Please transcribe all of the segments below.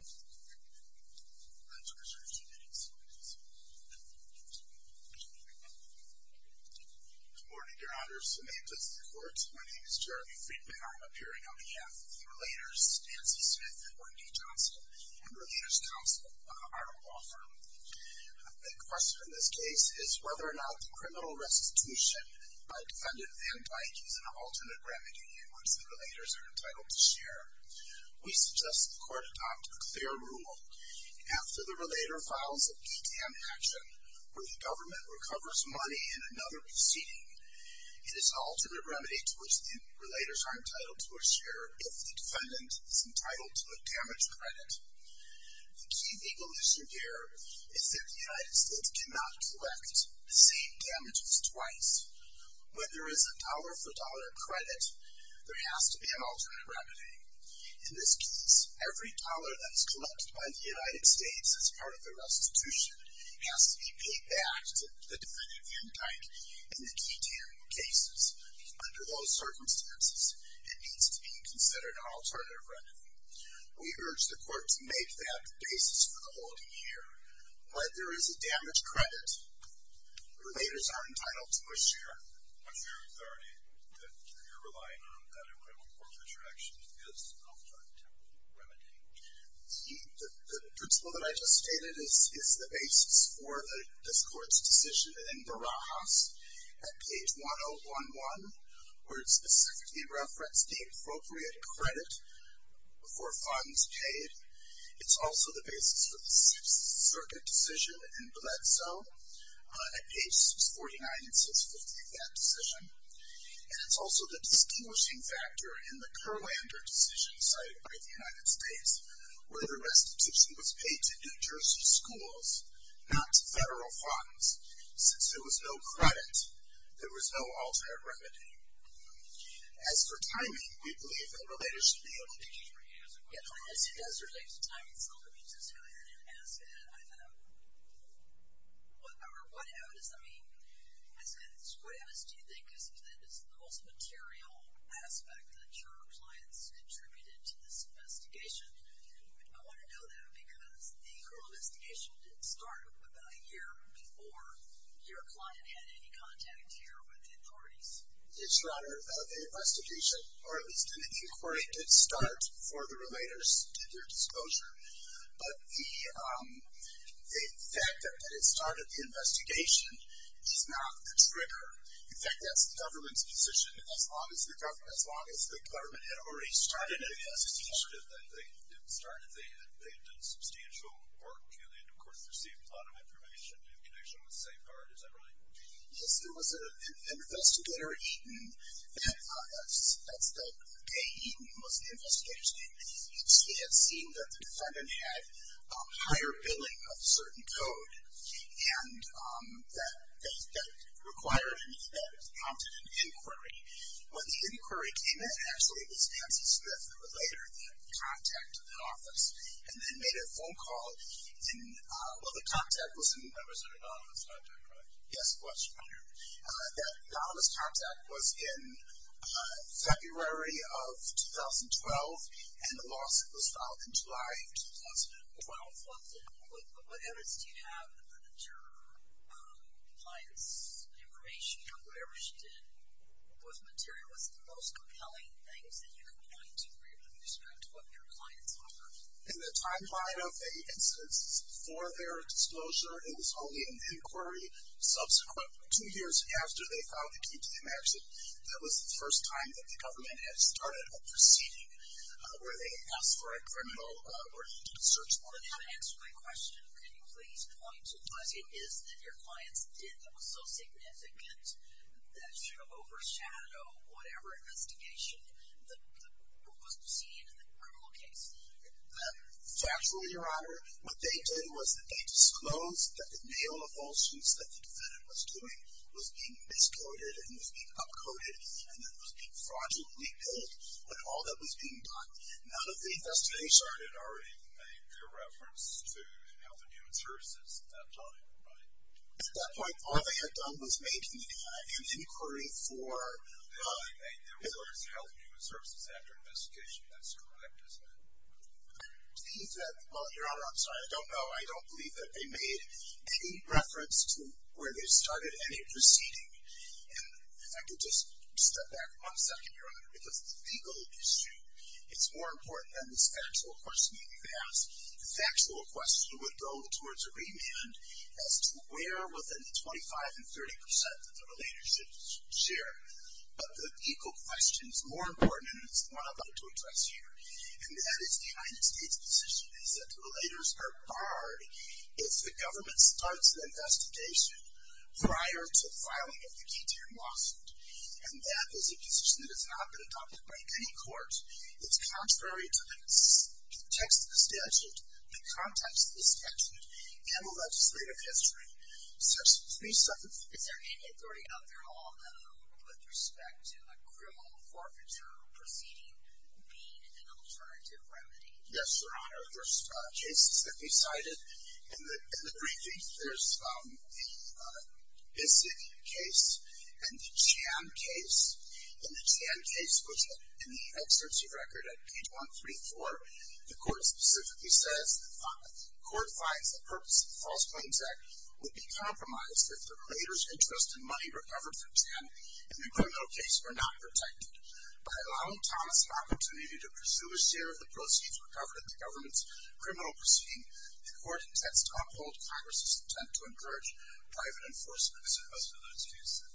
Good morning, Your Honor, Samantha's of the Court, my name is Jeremy Friedman, I'm appearing on behalf of the Relators, Nancy Smith, Orton D. Johnson, and Relators Counsel, Arnold Wofford. A big question in this case is whether or not the criminal restitution by defendant Van Dyck is an alternate remedy once the Relators are entitled to share. We suggest the Court adopt a clear rule, after the Relator files a GTAM action, where the government recovers money in another proceeding, it is an alternate remedy to which the Relators are entitled to a share if the defendant is entitled to a damage credit. The key legal issue here is that the United States cannot collect the same damages twice. When there is a dollar-for-dollar credit, there has to be an alternate remedy. In this case, every dollar that is collected by the United States as part of the restitution has to be paid back to the defendant Van Dyck in the GTAM cases. Under those circumstances, it needs to be considered an alternate remedy. We urge the Court to make that the basis for the holding here. When there is a damage credit, the Relators are entitled to a share. The principle that I just stated is the basis for this Court's decision in Barajas at page 1011, where it specifically referenced the appropriate credit for funds paid. It's also the basis for the Sixth Circuit decision in Bledsoe at pages 49 and 650 of that decision. And it's also the distinguishing factor in the Curlander decision cited by the United States, where the restitution was paid to New Jersey schools, not to federal funds, since there was no credit, there was no alternate remedy. As for timing, we believe the Relators should be able to... Yes, as it relates to timing, some of you just highlighted it as that. I know. What does that mean? I said, what else do you think is the most material aspect that your clients contributed to this investigation? I want to know that, because the criminal investigation didn't start It's your honor, the investigation, or at least an inquiry, did start before the Relators did their disclosure. But the fact that it started the investigation is not the trigger. In fact, that's the government's position, as long as the government had already started the investigation. They didn't start it, they had done substantial work, and of course, received a lot of information in connection with safeguard, is that right? Yes, there was an investigator, A. Eaton, who was the investigator's name, and he had seen that the defendant had higher billing of a certain code, and that prompted an inquiry. When the inquiry came in, actually it was Nancy Smith, the Relator, that contacted the office, and then made a phone call, Well, the contact was with members of an anonymous contact, right? Yes, that anonymous contact was in February of 2012, and the lawsuit was filed in July of 2012. What evidence do you have that your client's information, or whatever she did, was material? What's the most compelling thing that you can point to, with respect to what your clients offered? In the timeline of the incidents before their disclosure, it was only in the inquiry subsequent, two years after they filed the QTM action, that was the first time that the government had started a proceeding, where they had asked for a criminal search warrant. To answer my question, can you please point to what it is that your clients did that was so significant, that should have overshadowed whatever investigation was seen in the criminal case? Factually, Your Honor, what they did was that they disclosed that the mail of all suits that the defendant was doing was being miscoded, and was being up-coded, and that it was being fraudulently billed, but all that was being done out of the investigation. They had already made their reference to Health and Human Services at that time, right? At that point, all they had done was make an inquiry for... Make their reference to Health and Human Services after investigation. That's correct, isn't it? Well, Your Honor, I'm sorry, I don't know. I don't believe that they made any reference to where they started any proceeding. And if I could just step back one second, Your Honor, because it's a legal issue. It's more important than this factual question that you asked. The factual question would go towards a remand as to where within the 25% and 30% that the relatorships share. But the legal question's more important, and it's the one I'd like to address here. And that is, the United States' position is that the relators are barred if the government starts an investigation prior to filing of the key to your lawsuit. And that is a position that has not been adopted by any court. It's contrary to the text of the statute, the context of the statute, and the legislative history. Is there any authority out there, Your Honor, with respect to a criminal forfeiture proceeding being an alternative remedy? Yes, Your Honor, there's cases that we cited. In the briefings, there's the Bissett case and the Chan case. In the Chan case, which in the exerts of record at page 134, the court specifically says, the court finds the purpose of the False Claims Act would be compromised if the relator's interest in money recovered from Chan in the criminal case were not protected. By allowing Thomas an opportunity to pursue a share of the proceeds recovered at the government's criminal proceeding, the court intends to uphold Congress's intent to encourage private enforcement. As opposed to those cases,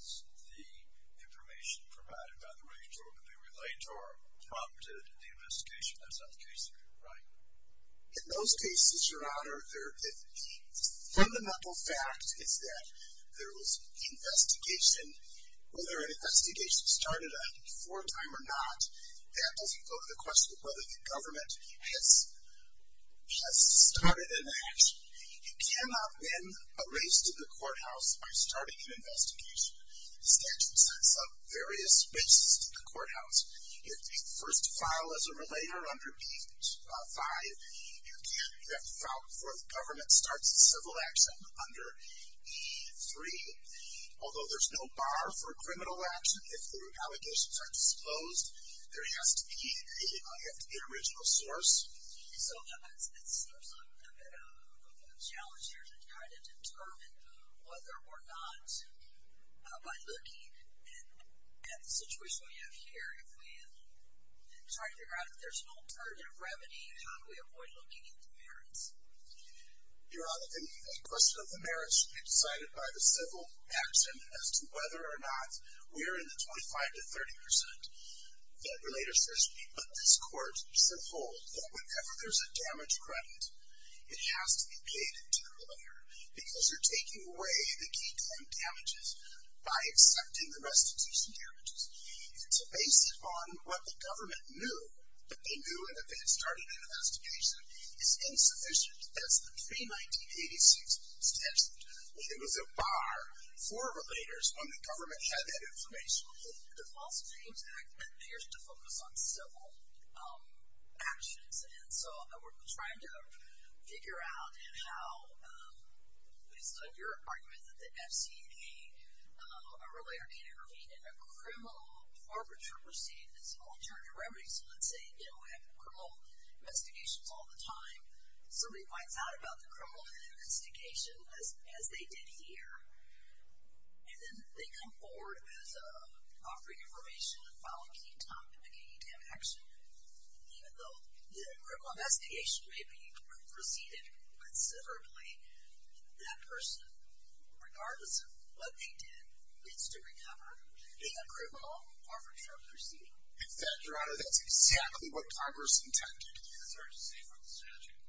the information provided by the regulator would be relayed to our prop to the investigation as that case occurred, right? In those cases, Your Honor, the fundamental fact is that there was investigation. Whether an investigation started a fore time or not, that doesn't go to the question of whether the government has started an action. It cannot then be erased in the courthouse by starting an investigation. The statute sets up various races in the courthouse. If the first file is a relator under E5, you have to file before the government starts a civil action under E3. Although there's no bar for criminal action, if the allegations are disclosed, there has to be an original source. So it seems a challenge here to try to determine whether or not, by looking at the situation we have here, if we try to figure out if there's no alternative remedy, how do we avoid looking into merits? Your Honor, the question of the merits should be decided by the civil action as to whether or not we're in the 25 to 30 percent that relator says we need. But this court said, hold, that whenever there's a damage credit, it has to be paid to the relator. Because you're taking away the key crime damages by accepting the restitution damages. It's based upon what the government knew. What they knew when they started the investigation is insufficient. That's the pre-1986 statute. It was a bar for relators when the government had that information. The False Names Act appears to focus on civil actions. And so we're trying to figure out how, based on your argument, that the FCPA, a relator can intervene in a criminal arbitrary proceeding that's an alternative remedy. So let's say, you know, we have criminal investigations all the time. Somebody finds out about the criminal investigation, as they did here. And then they come forward as offering information and filing a key document to get you to have action. Even though the criminal investigation may be preceded considerably, that person, regardless of what they did, gets to recover in a criminal arbitrary proceeding. In fact, Your Honor, that's exactly what Congress intended. It's hard to say from the statute.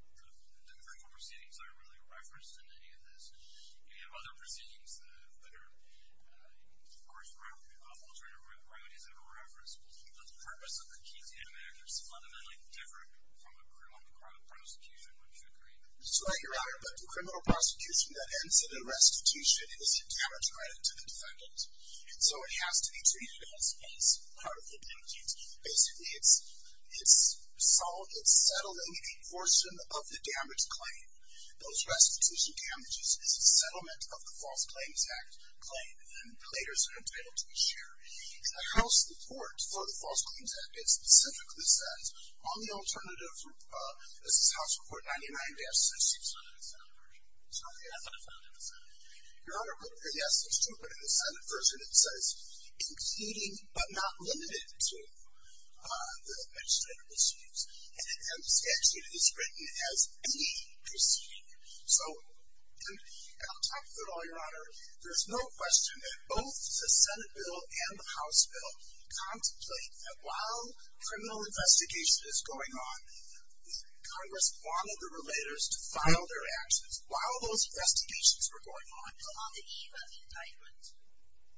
The criminal proceedings aren't really referenced in any of this. You have other proceedings that are, of course, around alternative remedies that are referenced. But the purpose of the key damages is fundamentally different from a criminal prosecution, wouldn't you agree? Sorry, Your Honor, but the criminal prosecution that ends in a restitution is a damage right to the defendant. And so it has to be treated as part of the damages. Basically, it's settled in a portion of the damage claim. Those restitution damages is a settlement of the False Claims Act claim. And relators are entitled to a share. In the House report for the False Claims Act, it specifically says, on the alternative, this is House Report 99-66 on the Senate version. It's not the ethical version of the Senate. Your Honor, yes, it's true. But in the Senate version, it says, including but not limited to the legislative disputes. And the statute is written as any proceeding. So I'll talk through it all, Your Honor. There's no question that both the Senate bill and the House bill contemplate that while criminal investigation is going on, Congress wanted the relators to file their actions. While those investigations were going on, on the eve of the indictment,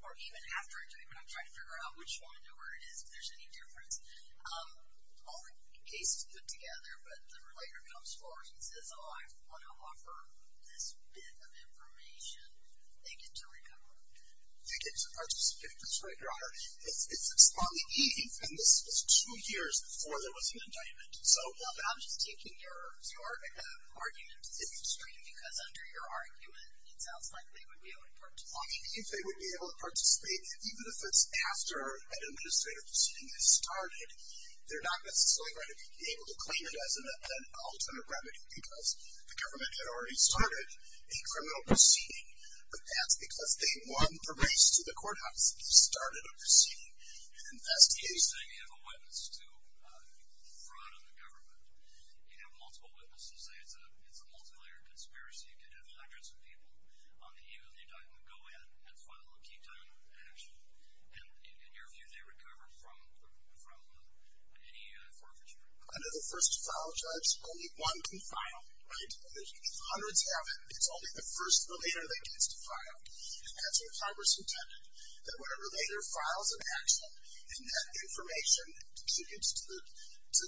or even after the indictment, I'm trying to figure out which one or where it is, if there's any difference. All the cases put together, but the relator comes forward and says, oh, I want to offer this bit of information. They get to participate. That's right, Your Honor. It's on the eve, and this was two years before there was an indictment. I'm just taking your argument to the extreme, because under your argument, it sounds like they would be able to participate. If they would be able to participate, even if it's after an administrative proceeding has started, they're not necessarily going to be able to claim it as an alternate remedy, because the government had already started a criminal proceeding. But that's because they won the race to the courthouse and started a proceeding investigation. You're saying you have a witness to fraud in the government. You have multiple witnesses. It's a multi-layered conspiracy. You could have hundreds of people on the eve of the indictment go in and file a key time action. And in your view, they recover from any forfeiture? Under the first to file judge, only one can file. If hundreds have it, it's only the first relator that gets to file. That's what Congress intended. That when a relator files an action, and that information contributes to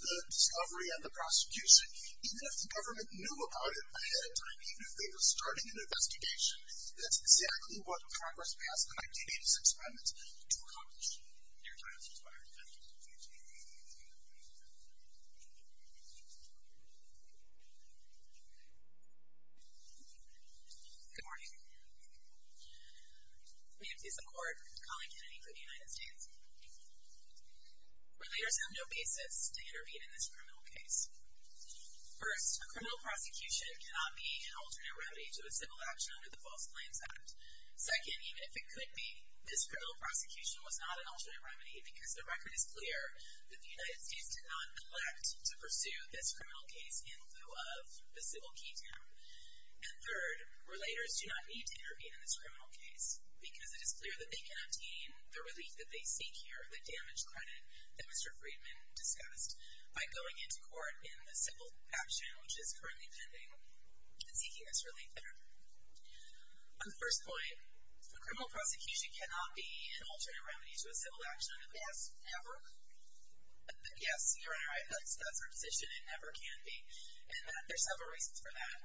the discovery and the prosecution, even if the government knew about it ahead of time, even if they were starting an investigation, that's exactly what Congress passed in 1986 amendments to accomplish. Your time has expired. Good morning. I'm here to support Colin Kennedy for the United States. Relators have no basis to intervene in this criminal case. First, a criminal prosecution cannot be an alternate remedy to a civil action under the False Claims Act. Second, even if it could be, this criminal prosecution was not an alternate remedy because the record is clear that the United States did not collect to pursue this criminal case in lieu of the civil key time. And third, relators do not need to intervene in this criminal case because it is clear that they cannot gain the relief that they seek here, the damage credit that Mr. Friedman discussed by going into court in the civil action, which is currently pending, and seeking this relief there. On the first point, a criminal prosecution cannot be an alternate remedy to a civil action under the False, never? Yes, you're in the right place. That's your position. It never can be. And there's several reasons for that.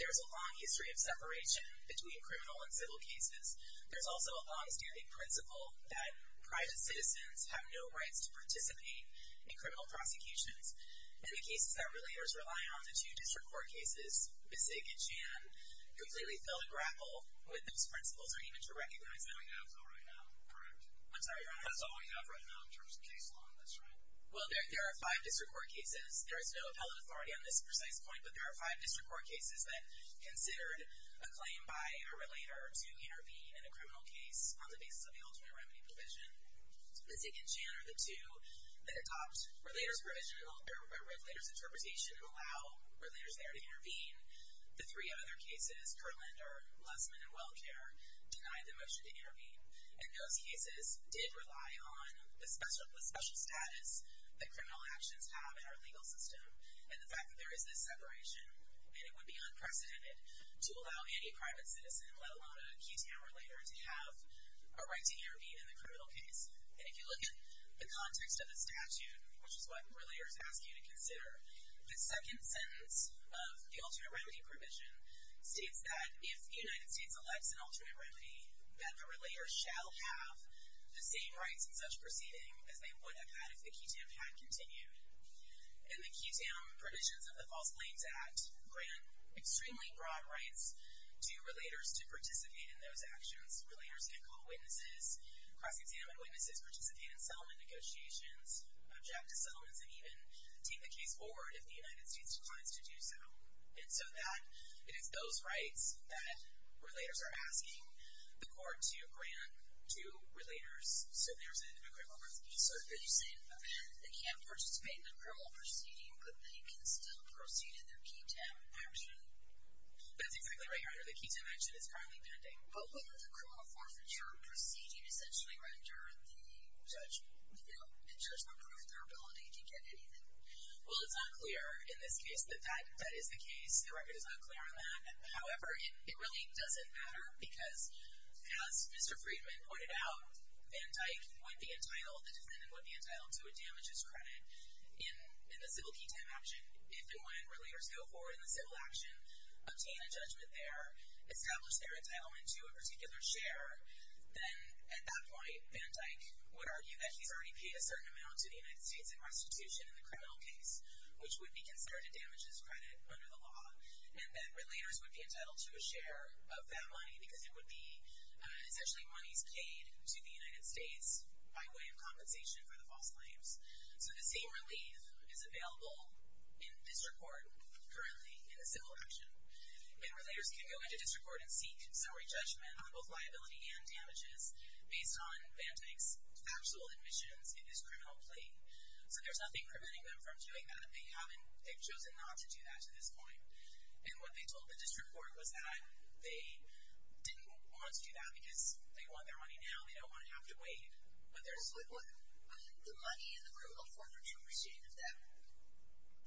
There's a long history of separation between criminal and civil cases. There's also a longstanding principle that private citizens have no rights to participate in criminal prosecutions. And the cases that relators rely on, the two district court cases, Besig and Chan, completely fail to grapple with those principles or even to recognize them. We have no right now, correct. I'm sorry, your honor? That's all we have right now in terms of case law. That's right. Well, there are five district court cases. There is no appellate authority on this precise point. But there are five district court cases that considered a claim by a relator to intervene in a criminal case on the basis of the alternate remedy provision. Besig and Chan are the two that adopt relator's provision and alter a relator's interpretation and allow relators there to intervene. The three other cases, Kurlander, Lessman, and WellCare, denied the motion to intervene. And those cases did rely on the special status that criminal actions have in our legal system and the fact that there is this separation and it would be unprecedented to allow any private citizen, let alone a key town relator, to have a right to intervene in a criminal case. And if you look at the context of the statute, which is what relators ask you to consider, the second sentence of the alternate remedy provision states that if the United States elects an alternate remedy, that the relator shall have the same rights in such proceeding as they would have had if the QTAM had continued. And the QTAM provisions of the False Blames Act grant extremely broad rights to relators to participate in those actions. Relators can call witnesses, cross-examine witnesses, participate in settlement negotiations, object to settlements, and even take the case forward if the United States declines to do so. And so that, it is those rights that relators are asking the court to grant to relators, so there's an equivalent. So are you saying that they can participate in the criminal proceeding, but they can still proceed in their QTAM action? That's exactly right, your honor. The QTAM action is currently pending. But wouldn't the criminal forfeiture proceeding essentially render the judge, you know, the judge unproved their ability to get anything? Well, it's not clear in this case that that is the case. The record is not clear on that. However, it really doesn't matter because as Mr. Friedman pointed out, Van Dyck would be entitled, the defendant would be entitled to a damages credit in the civil QTAM action if and when relators go forward in the civil action, obtain a judgment there, establish their entitlement to a particular share, then at that point, Van Dyck would argue that he's already paid a certain amount to the United States in restitution in the criminal case which would be considered a damages credit under the law and that relators would be entitled to a share of that money because it would be essentially monies paid to the United States by way of compensation for the false claims. So the same relief is available in district court currently in the civil action. And relators can go into district court and seek summary judgment on both liability and damages based on Van Dyck's factual admissions in this criminal plea. So there's nothing preventing them from doing that. They haven't, they've chosen not to do that to this point. And what they told the district court was that they didn't want to do that because they want their money now, they don't want to have to wait. But there's... The money in the criminal forfeiture receipt of that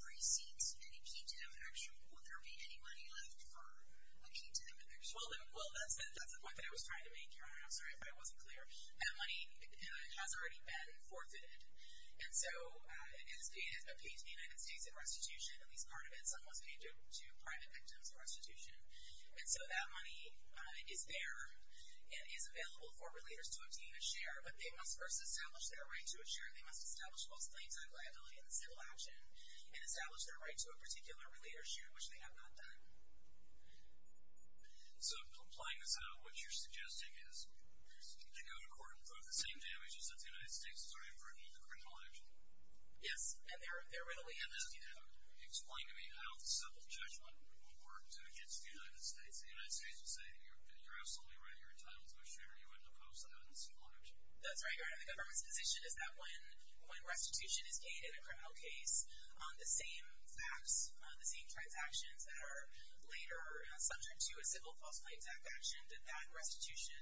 receipt in a QTAM action, would there be any money left for a QTAM action? Well, that's the point that I was trying to make, Your Honor. I'm sorry if I wasn't clear. That money has already been forfeited. And so it has been paid to the United States in restitution, at least part of it. Some was paid to private victims in restitution. And so that money is there and is available for relators to obtain a share. But they must first establish their right to a share. They must establish false claims on liability in the civil action and establish their right to a particular relator's share, which they have not done. So playing this out, what you're suggesting is you go to court and prove the same damages that the United States has already proven in the criminal action? Yes. And they're readily able to do that. Explain to me how the civil judgment will work against the United States. The United States would say, you're absolutely right. You're entitled to a share. You wouldn't oppose that in the civil action. That's right, Your Honor. The government's position is that when restitution is paid in a criminal case, the same facts, the same transactions that are later subject to a civil false claims act action, that that restitution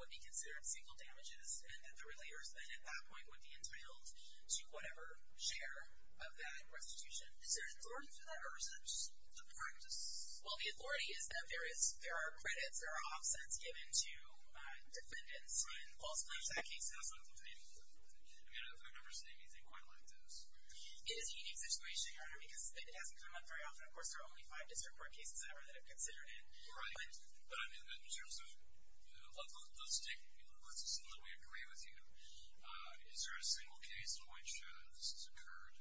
would be considered single damages and that the relators then, at that point, would be entitled to whatever share of that restitution. Is there authority for that? Or is it just the practice? Well, the authority is that there are credits, there are offsets given to defendants in false claims. That case has not been paid. I mean, I've never seen anything quite like this. It is a unique situation, Your Honor, because it hasn't come up very often. Of course, there are only five district court cases ever that have considered it. Right. But I mean, in terms of let's assume that we agree with you. Is there a single case in which this has occurred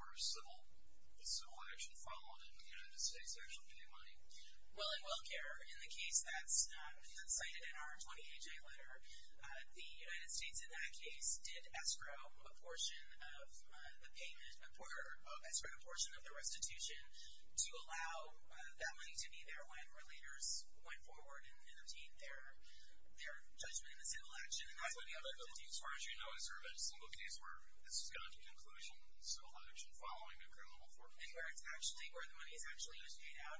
where a civil action followed and the United States actually paid money? Well, in welfare, in the case that's cited in our 20HA letter, the United States in that case did escrow a portion of the payment or escrowed a portion of the restitution to allow that money to be there when relators went forward and obtained their judgment in the civil action. As far as you know, is there a single case where this has gone to conclusion civil action following a criminal foreclosure? It's actually where the money is actually paid out.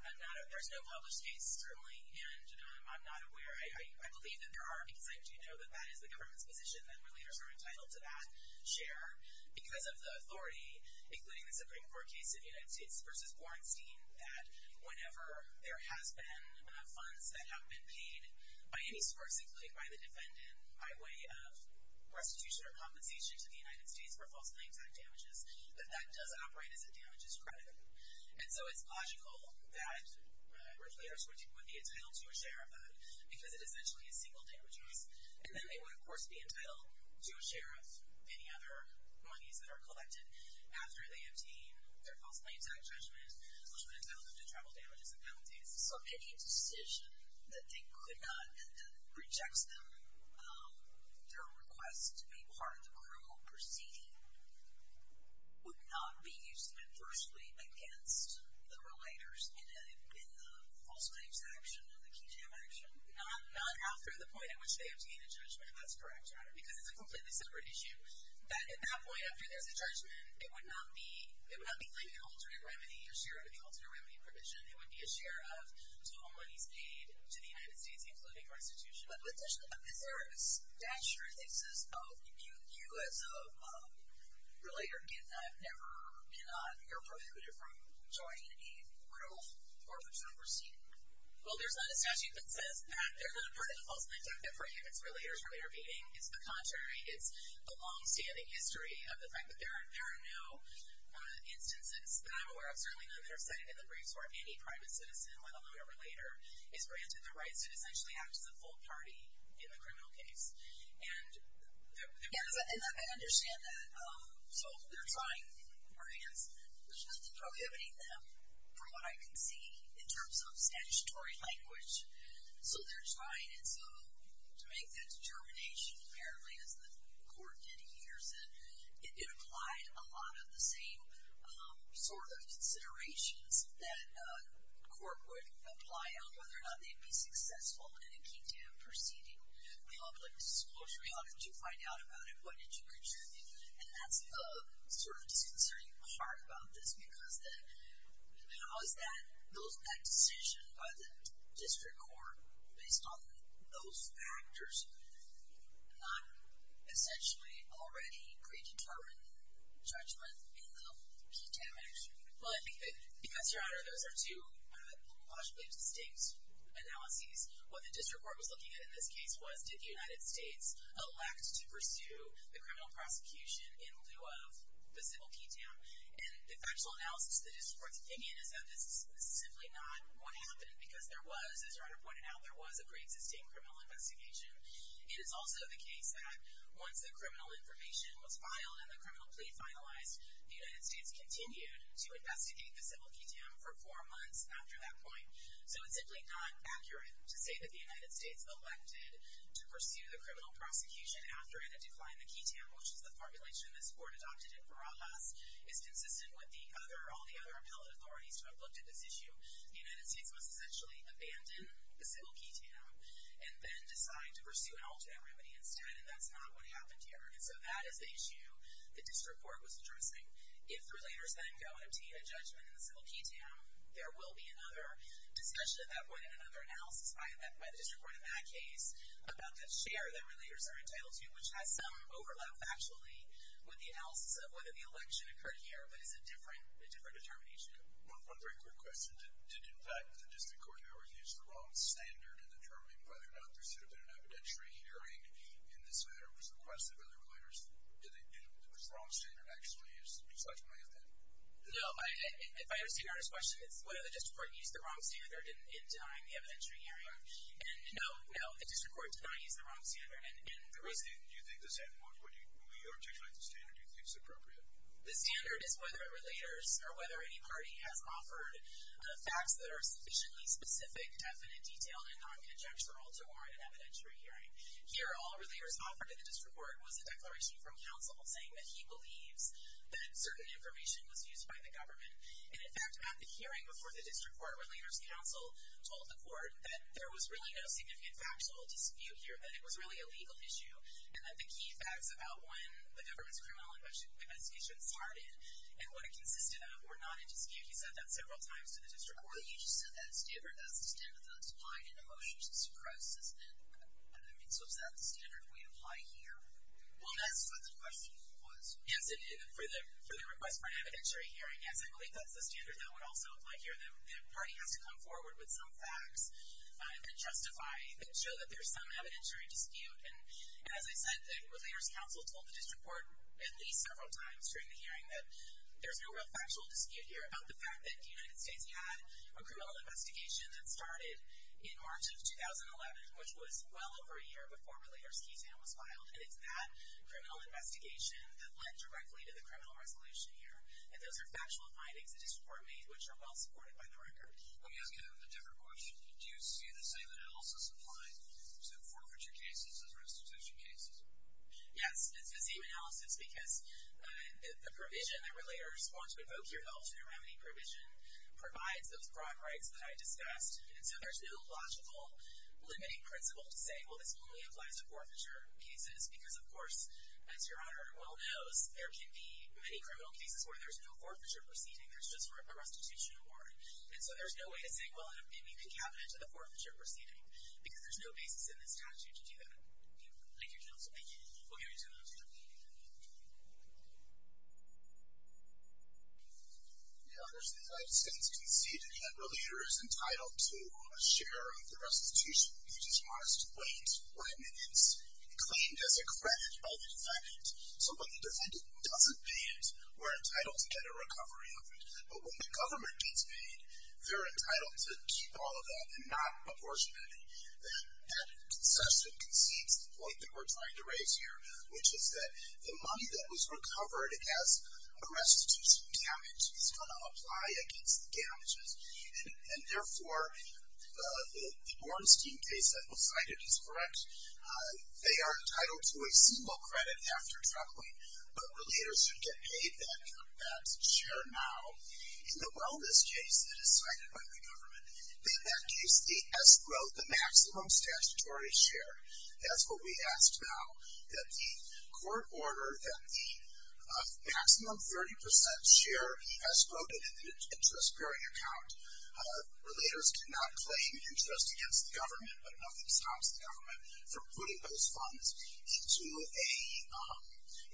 There's no published case currently, and I'm not aware. I believe that there are, because I do know that that is the government's position that relators are entitled to that share because of the authority, including the Supreme Court case in the United States versus Bornstein, that whenever there has been funds that have been paid by any source including by the defendant by way of restitution or compensation to the United States for false claims act damages that that does operate as a damages credit. And so it's logical that relators would be entitled to a share of that because it essentially is single damages and then they would, of course, be entitled to a share of any other monies that are collected after they receive that judgment, which would entail them to travel damages and penalties. So any decision that they could not and that rejects them their request to be part of the criminal proceeding would not be used adversely against the relators in the false claims action and the key jam action? Not after the point at which they obtain a judgment, that's correct, because it's a completely separate issue. At that point, after there's a judgment, it would not be like an alternate remedy, a share of the alternate remedy provision. It would be a share of total monies paid to the United States, including restitution. But is there a statute that says you as a relator cannot you're prohibited from joining a criminal or criminal proceeding? Well, there's not a statute that says that. There's not a part of the false claims act that prohibits relators from intervening. It's the contrary. It's the long-standing history of the fact that there are no instances that I'm aware of, certainly none that are cited in the briefs, where any private citizen, let alone a relator, is granted the right to essentially act as a full party in the criminal case. And I understand that. So they're trying, or against, there's nothing prohibiting them from what I can see in terms of statutory language. So they're trying, and so to make that determination, apparently as the court did here, said it applied a lot of the same sort of considerations that court would apply on whether or not they'd be successful in a key to proceeding public disclosure. How did you find out about it? What did you contribute? And that's the sort of disconcerting part about this because that decision by the district court based on those factors is not essentially already predetermined judgment in the key damage. Well, I think that because, Your Honor, those are two possibly distinct analyses. What the district court was looking at in this case was did the United States elect to pursue the criminal prosecution in lieu of the civil key damage. And the factual analysis the district court's opinion is that this is simply not what happened because there was, as Your Honor pointed out, there was a civil key damage. It is also the case that once the criminal information was filed and the criminal plea finalized, the United States continued to investigate the civil key damage for four months after that point. So it's simply not accurate to say that the United States elected to pursue the criminal prosecution after it had declined the key damage, which is the formulation this court adopted in Farajas, is consistent with all the other appellate authorities who have looked at this issue. The United States must essentially abandon the civil key damage and then decide to pursue an alternate remedy instead and that's not what happened here. And so that is the issue the district court was addressing. If the relators then go and obtain a judgment in the civil key damage, there will be another discussion at that point and another analysis by the district court in that case about the share that relators are entitled to, which has some overlap, factually, with the analysis of whether the election occurred here, but is a different determination. One very quick question. Did in fact, the district court never used the wrong standard in determining whether or not there should have been an evidentiary hearing in this matter was requested by the relators? Did they do it? Was the wrong standard actually used to decide to make a decision? No. If I understand your question, it's whether the district court used the wrong standard in denying the evidentiary hearing. And no, no, the district court did not use the wrong standard and the reason... Do you think the standard, when we articulate the standard, do you think it's appropriate? The standard is whether relators or whether any party has offered facts that are sufficiently specific, definite, detailed, and non-conjectural to warrant an evidentiary hearing. Here, all relators offered to the district court was a declaration from counsel saying that he believes that certain information was used by the government. And in fact, at the hearing before the district court, relators counsel told the court that there was really no significant factual dispute here, that it was really a legal issue, and that the key facts about when the government's criminal investigation started and what it consisted of were not in dispute. He said that several times to the district court. Well, you just said that standard. That's the standard that's applied in a motion to suppress, isn't it? I mean, so is that the standard we apply here? Well, that's what the question was. Yes, and for the request for an evidentiary hearing, yes, I believe that's the standard that would also apply here. The party has to come forward with some facts that justify and show that there's some evidentiary dispute. And as I said, the relators counsel told the district court at least several times during the hearing that there's no real factual dispute here about the fact that the United States had a criminal investigation that started in March of 2011, which was well over a year before Relator's Key Sam was filed. And it's that criminal investigation that led directly to the criminal resolution here. And those are factual findings the district court made which are well supported by the record. Let me ask you a different question. Do you see the same analysis applied to forfeiture cases as restitution cases? Yes, it's the same analysis because the provision that relators want to evoke here, the alternative remedy provision, provides those broad rights that I discussed. And so there's no logical limiting principle to say, well, this only applies to forfeiture cases, because of course, as Your Honor well knows, there can be many criminal cases where there's no forfeiture proceeding. There's just a restitution award. And so there's no way to say, well, it may be concatenated to the forfeiture proceeding because there's no basis in this statute to do that. Thank you, Your Honor. Thank you. We'll give you two minutes. Your Honor, as the United States conceded, a relator is entitled to a share of the restitution. They just must wait when it's claimed as a credit by the defendant. So when the defendant doesn't pay it, we're entitled to get a recovery of it. But when the government gets paid, they're entitled to keep all of that and not apportion it. That concession concedes the point that we're trying to raise here, which is that the money that was recovered as a restitution damage is going to apply against the damages. And therefore, the Bornstein case that was cited is correct. They are entitled to a single credit after traveling, but relators should get paid that share now. In the wellness case that is cited by the government, then that gives the escrow the maximum statutory share. That's what we asked now, that the court order that the maximum 30% share escrowed in an interest-bearing account. Relators cannot claim interest against the government, but nothing stops the government from putting those funds into a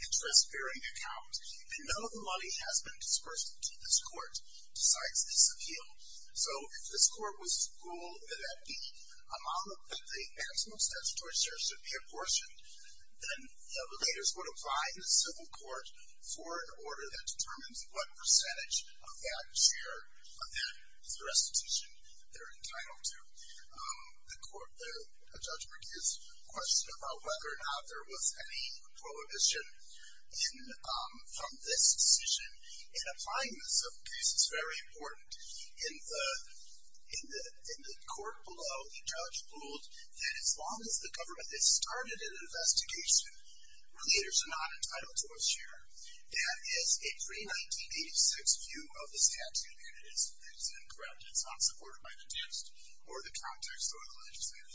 interest-bearing account. And none of the money has been disbursed to this court, besides this appeal. So if this court was to rule that the maximum statutory share should be apportioned, then the relators would apply to the civil court for an order that determines what percentage of that share of that restitution they're entitled to. The judgment is a question about whether or not there was any prohibition from this decision. And applying the civil case is very important. In the court below, the judge ruled that as long as the government has started an investigation, relators are not entitled to a share. That is a pre-1986 view of the statute, and it is incorrect. It's not supported by the just, or the context, or the legislature. Thank you. Thank you.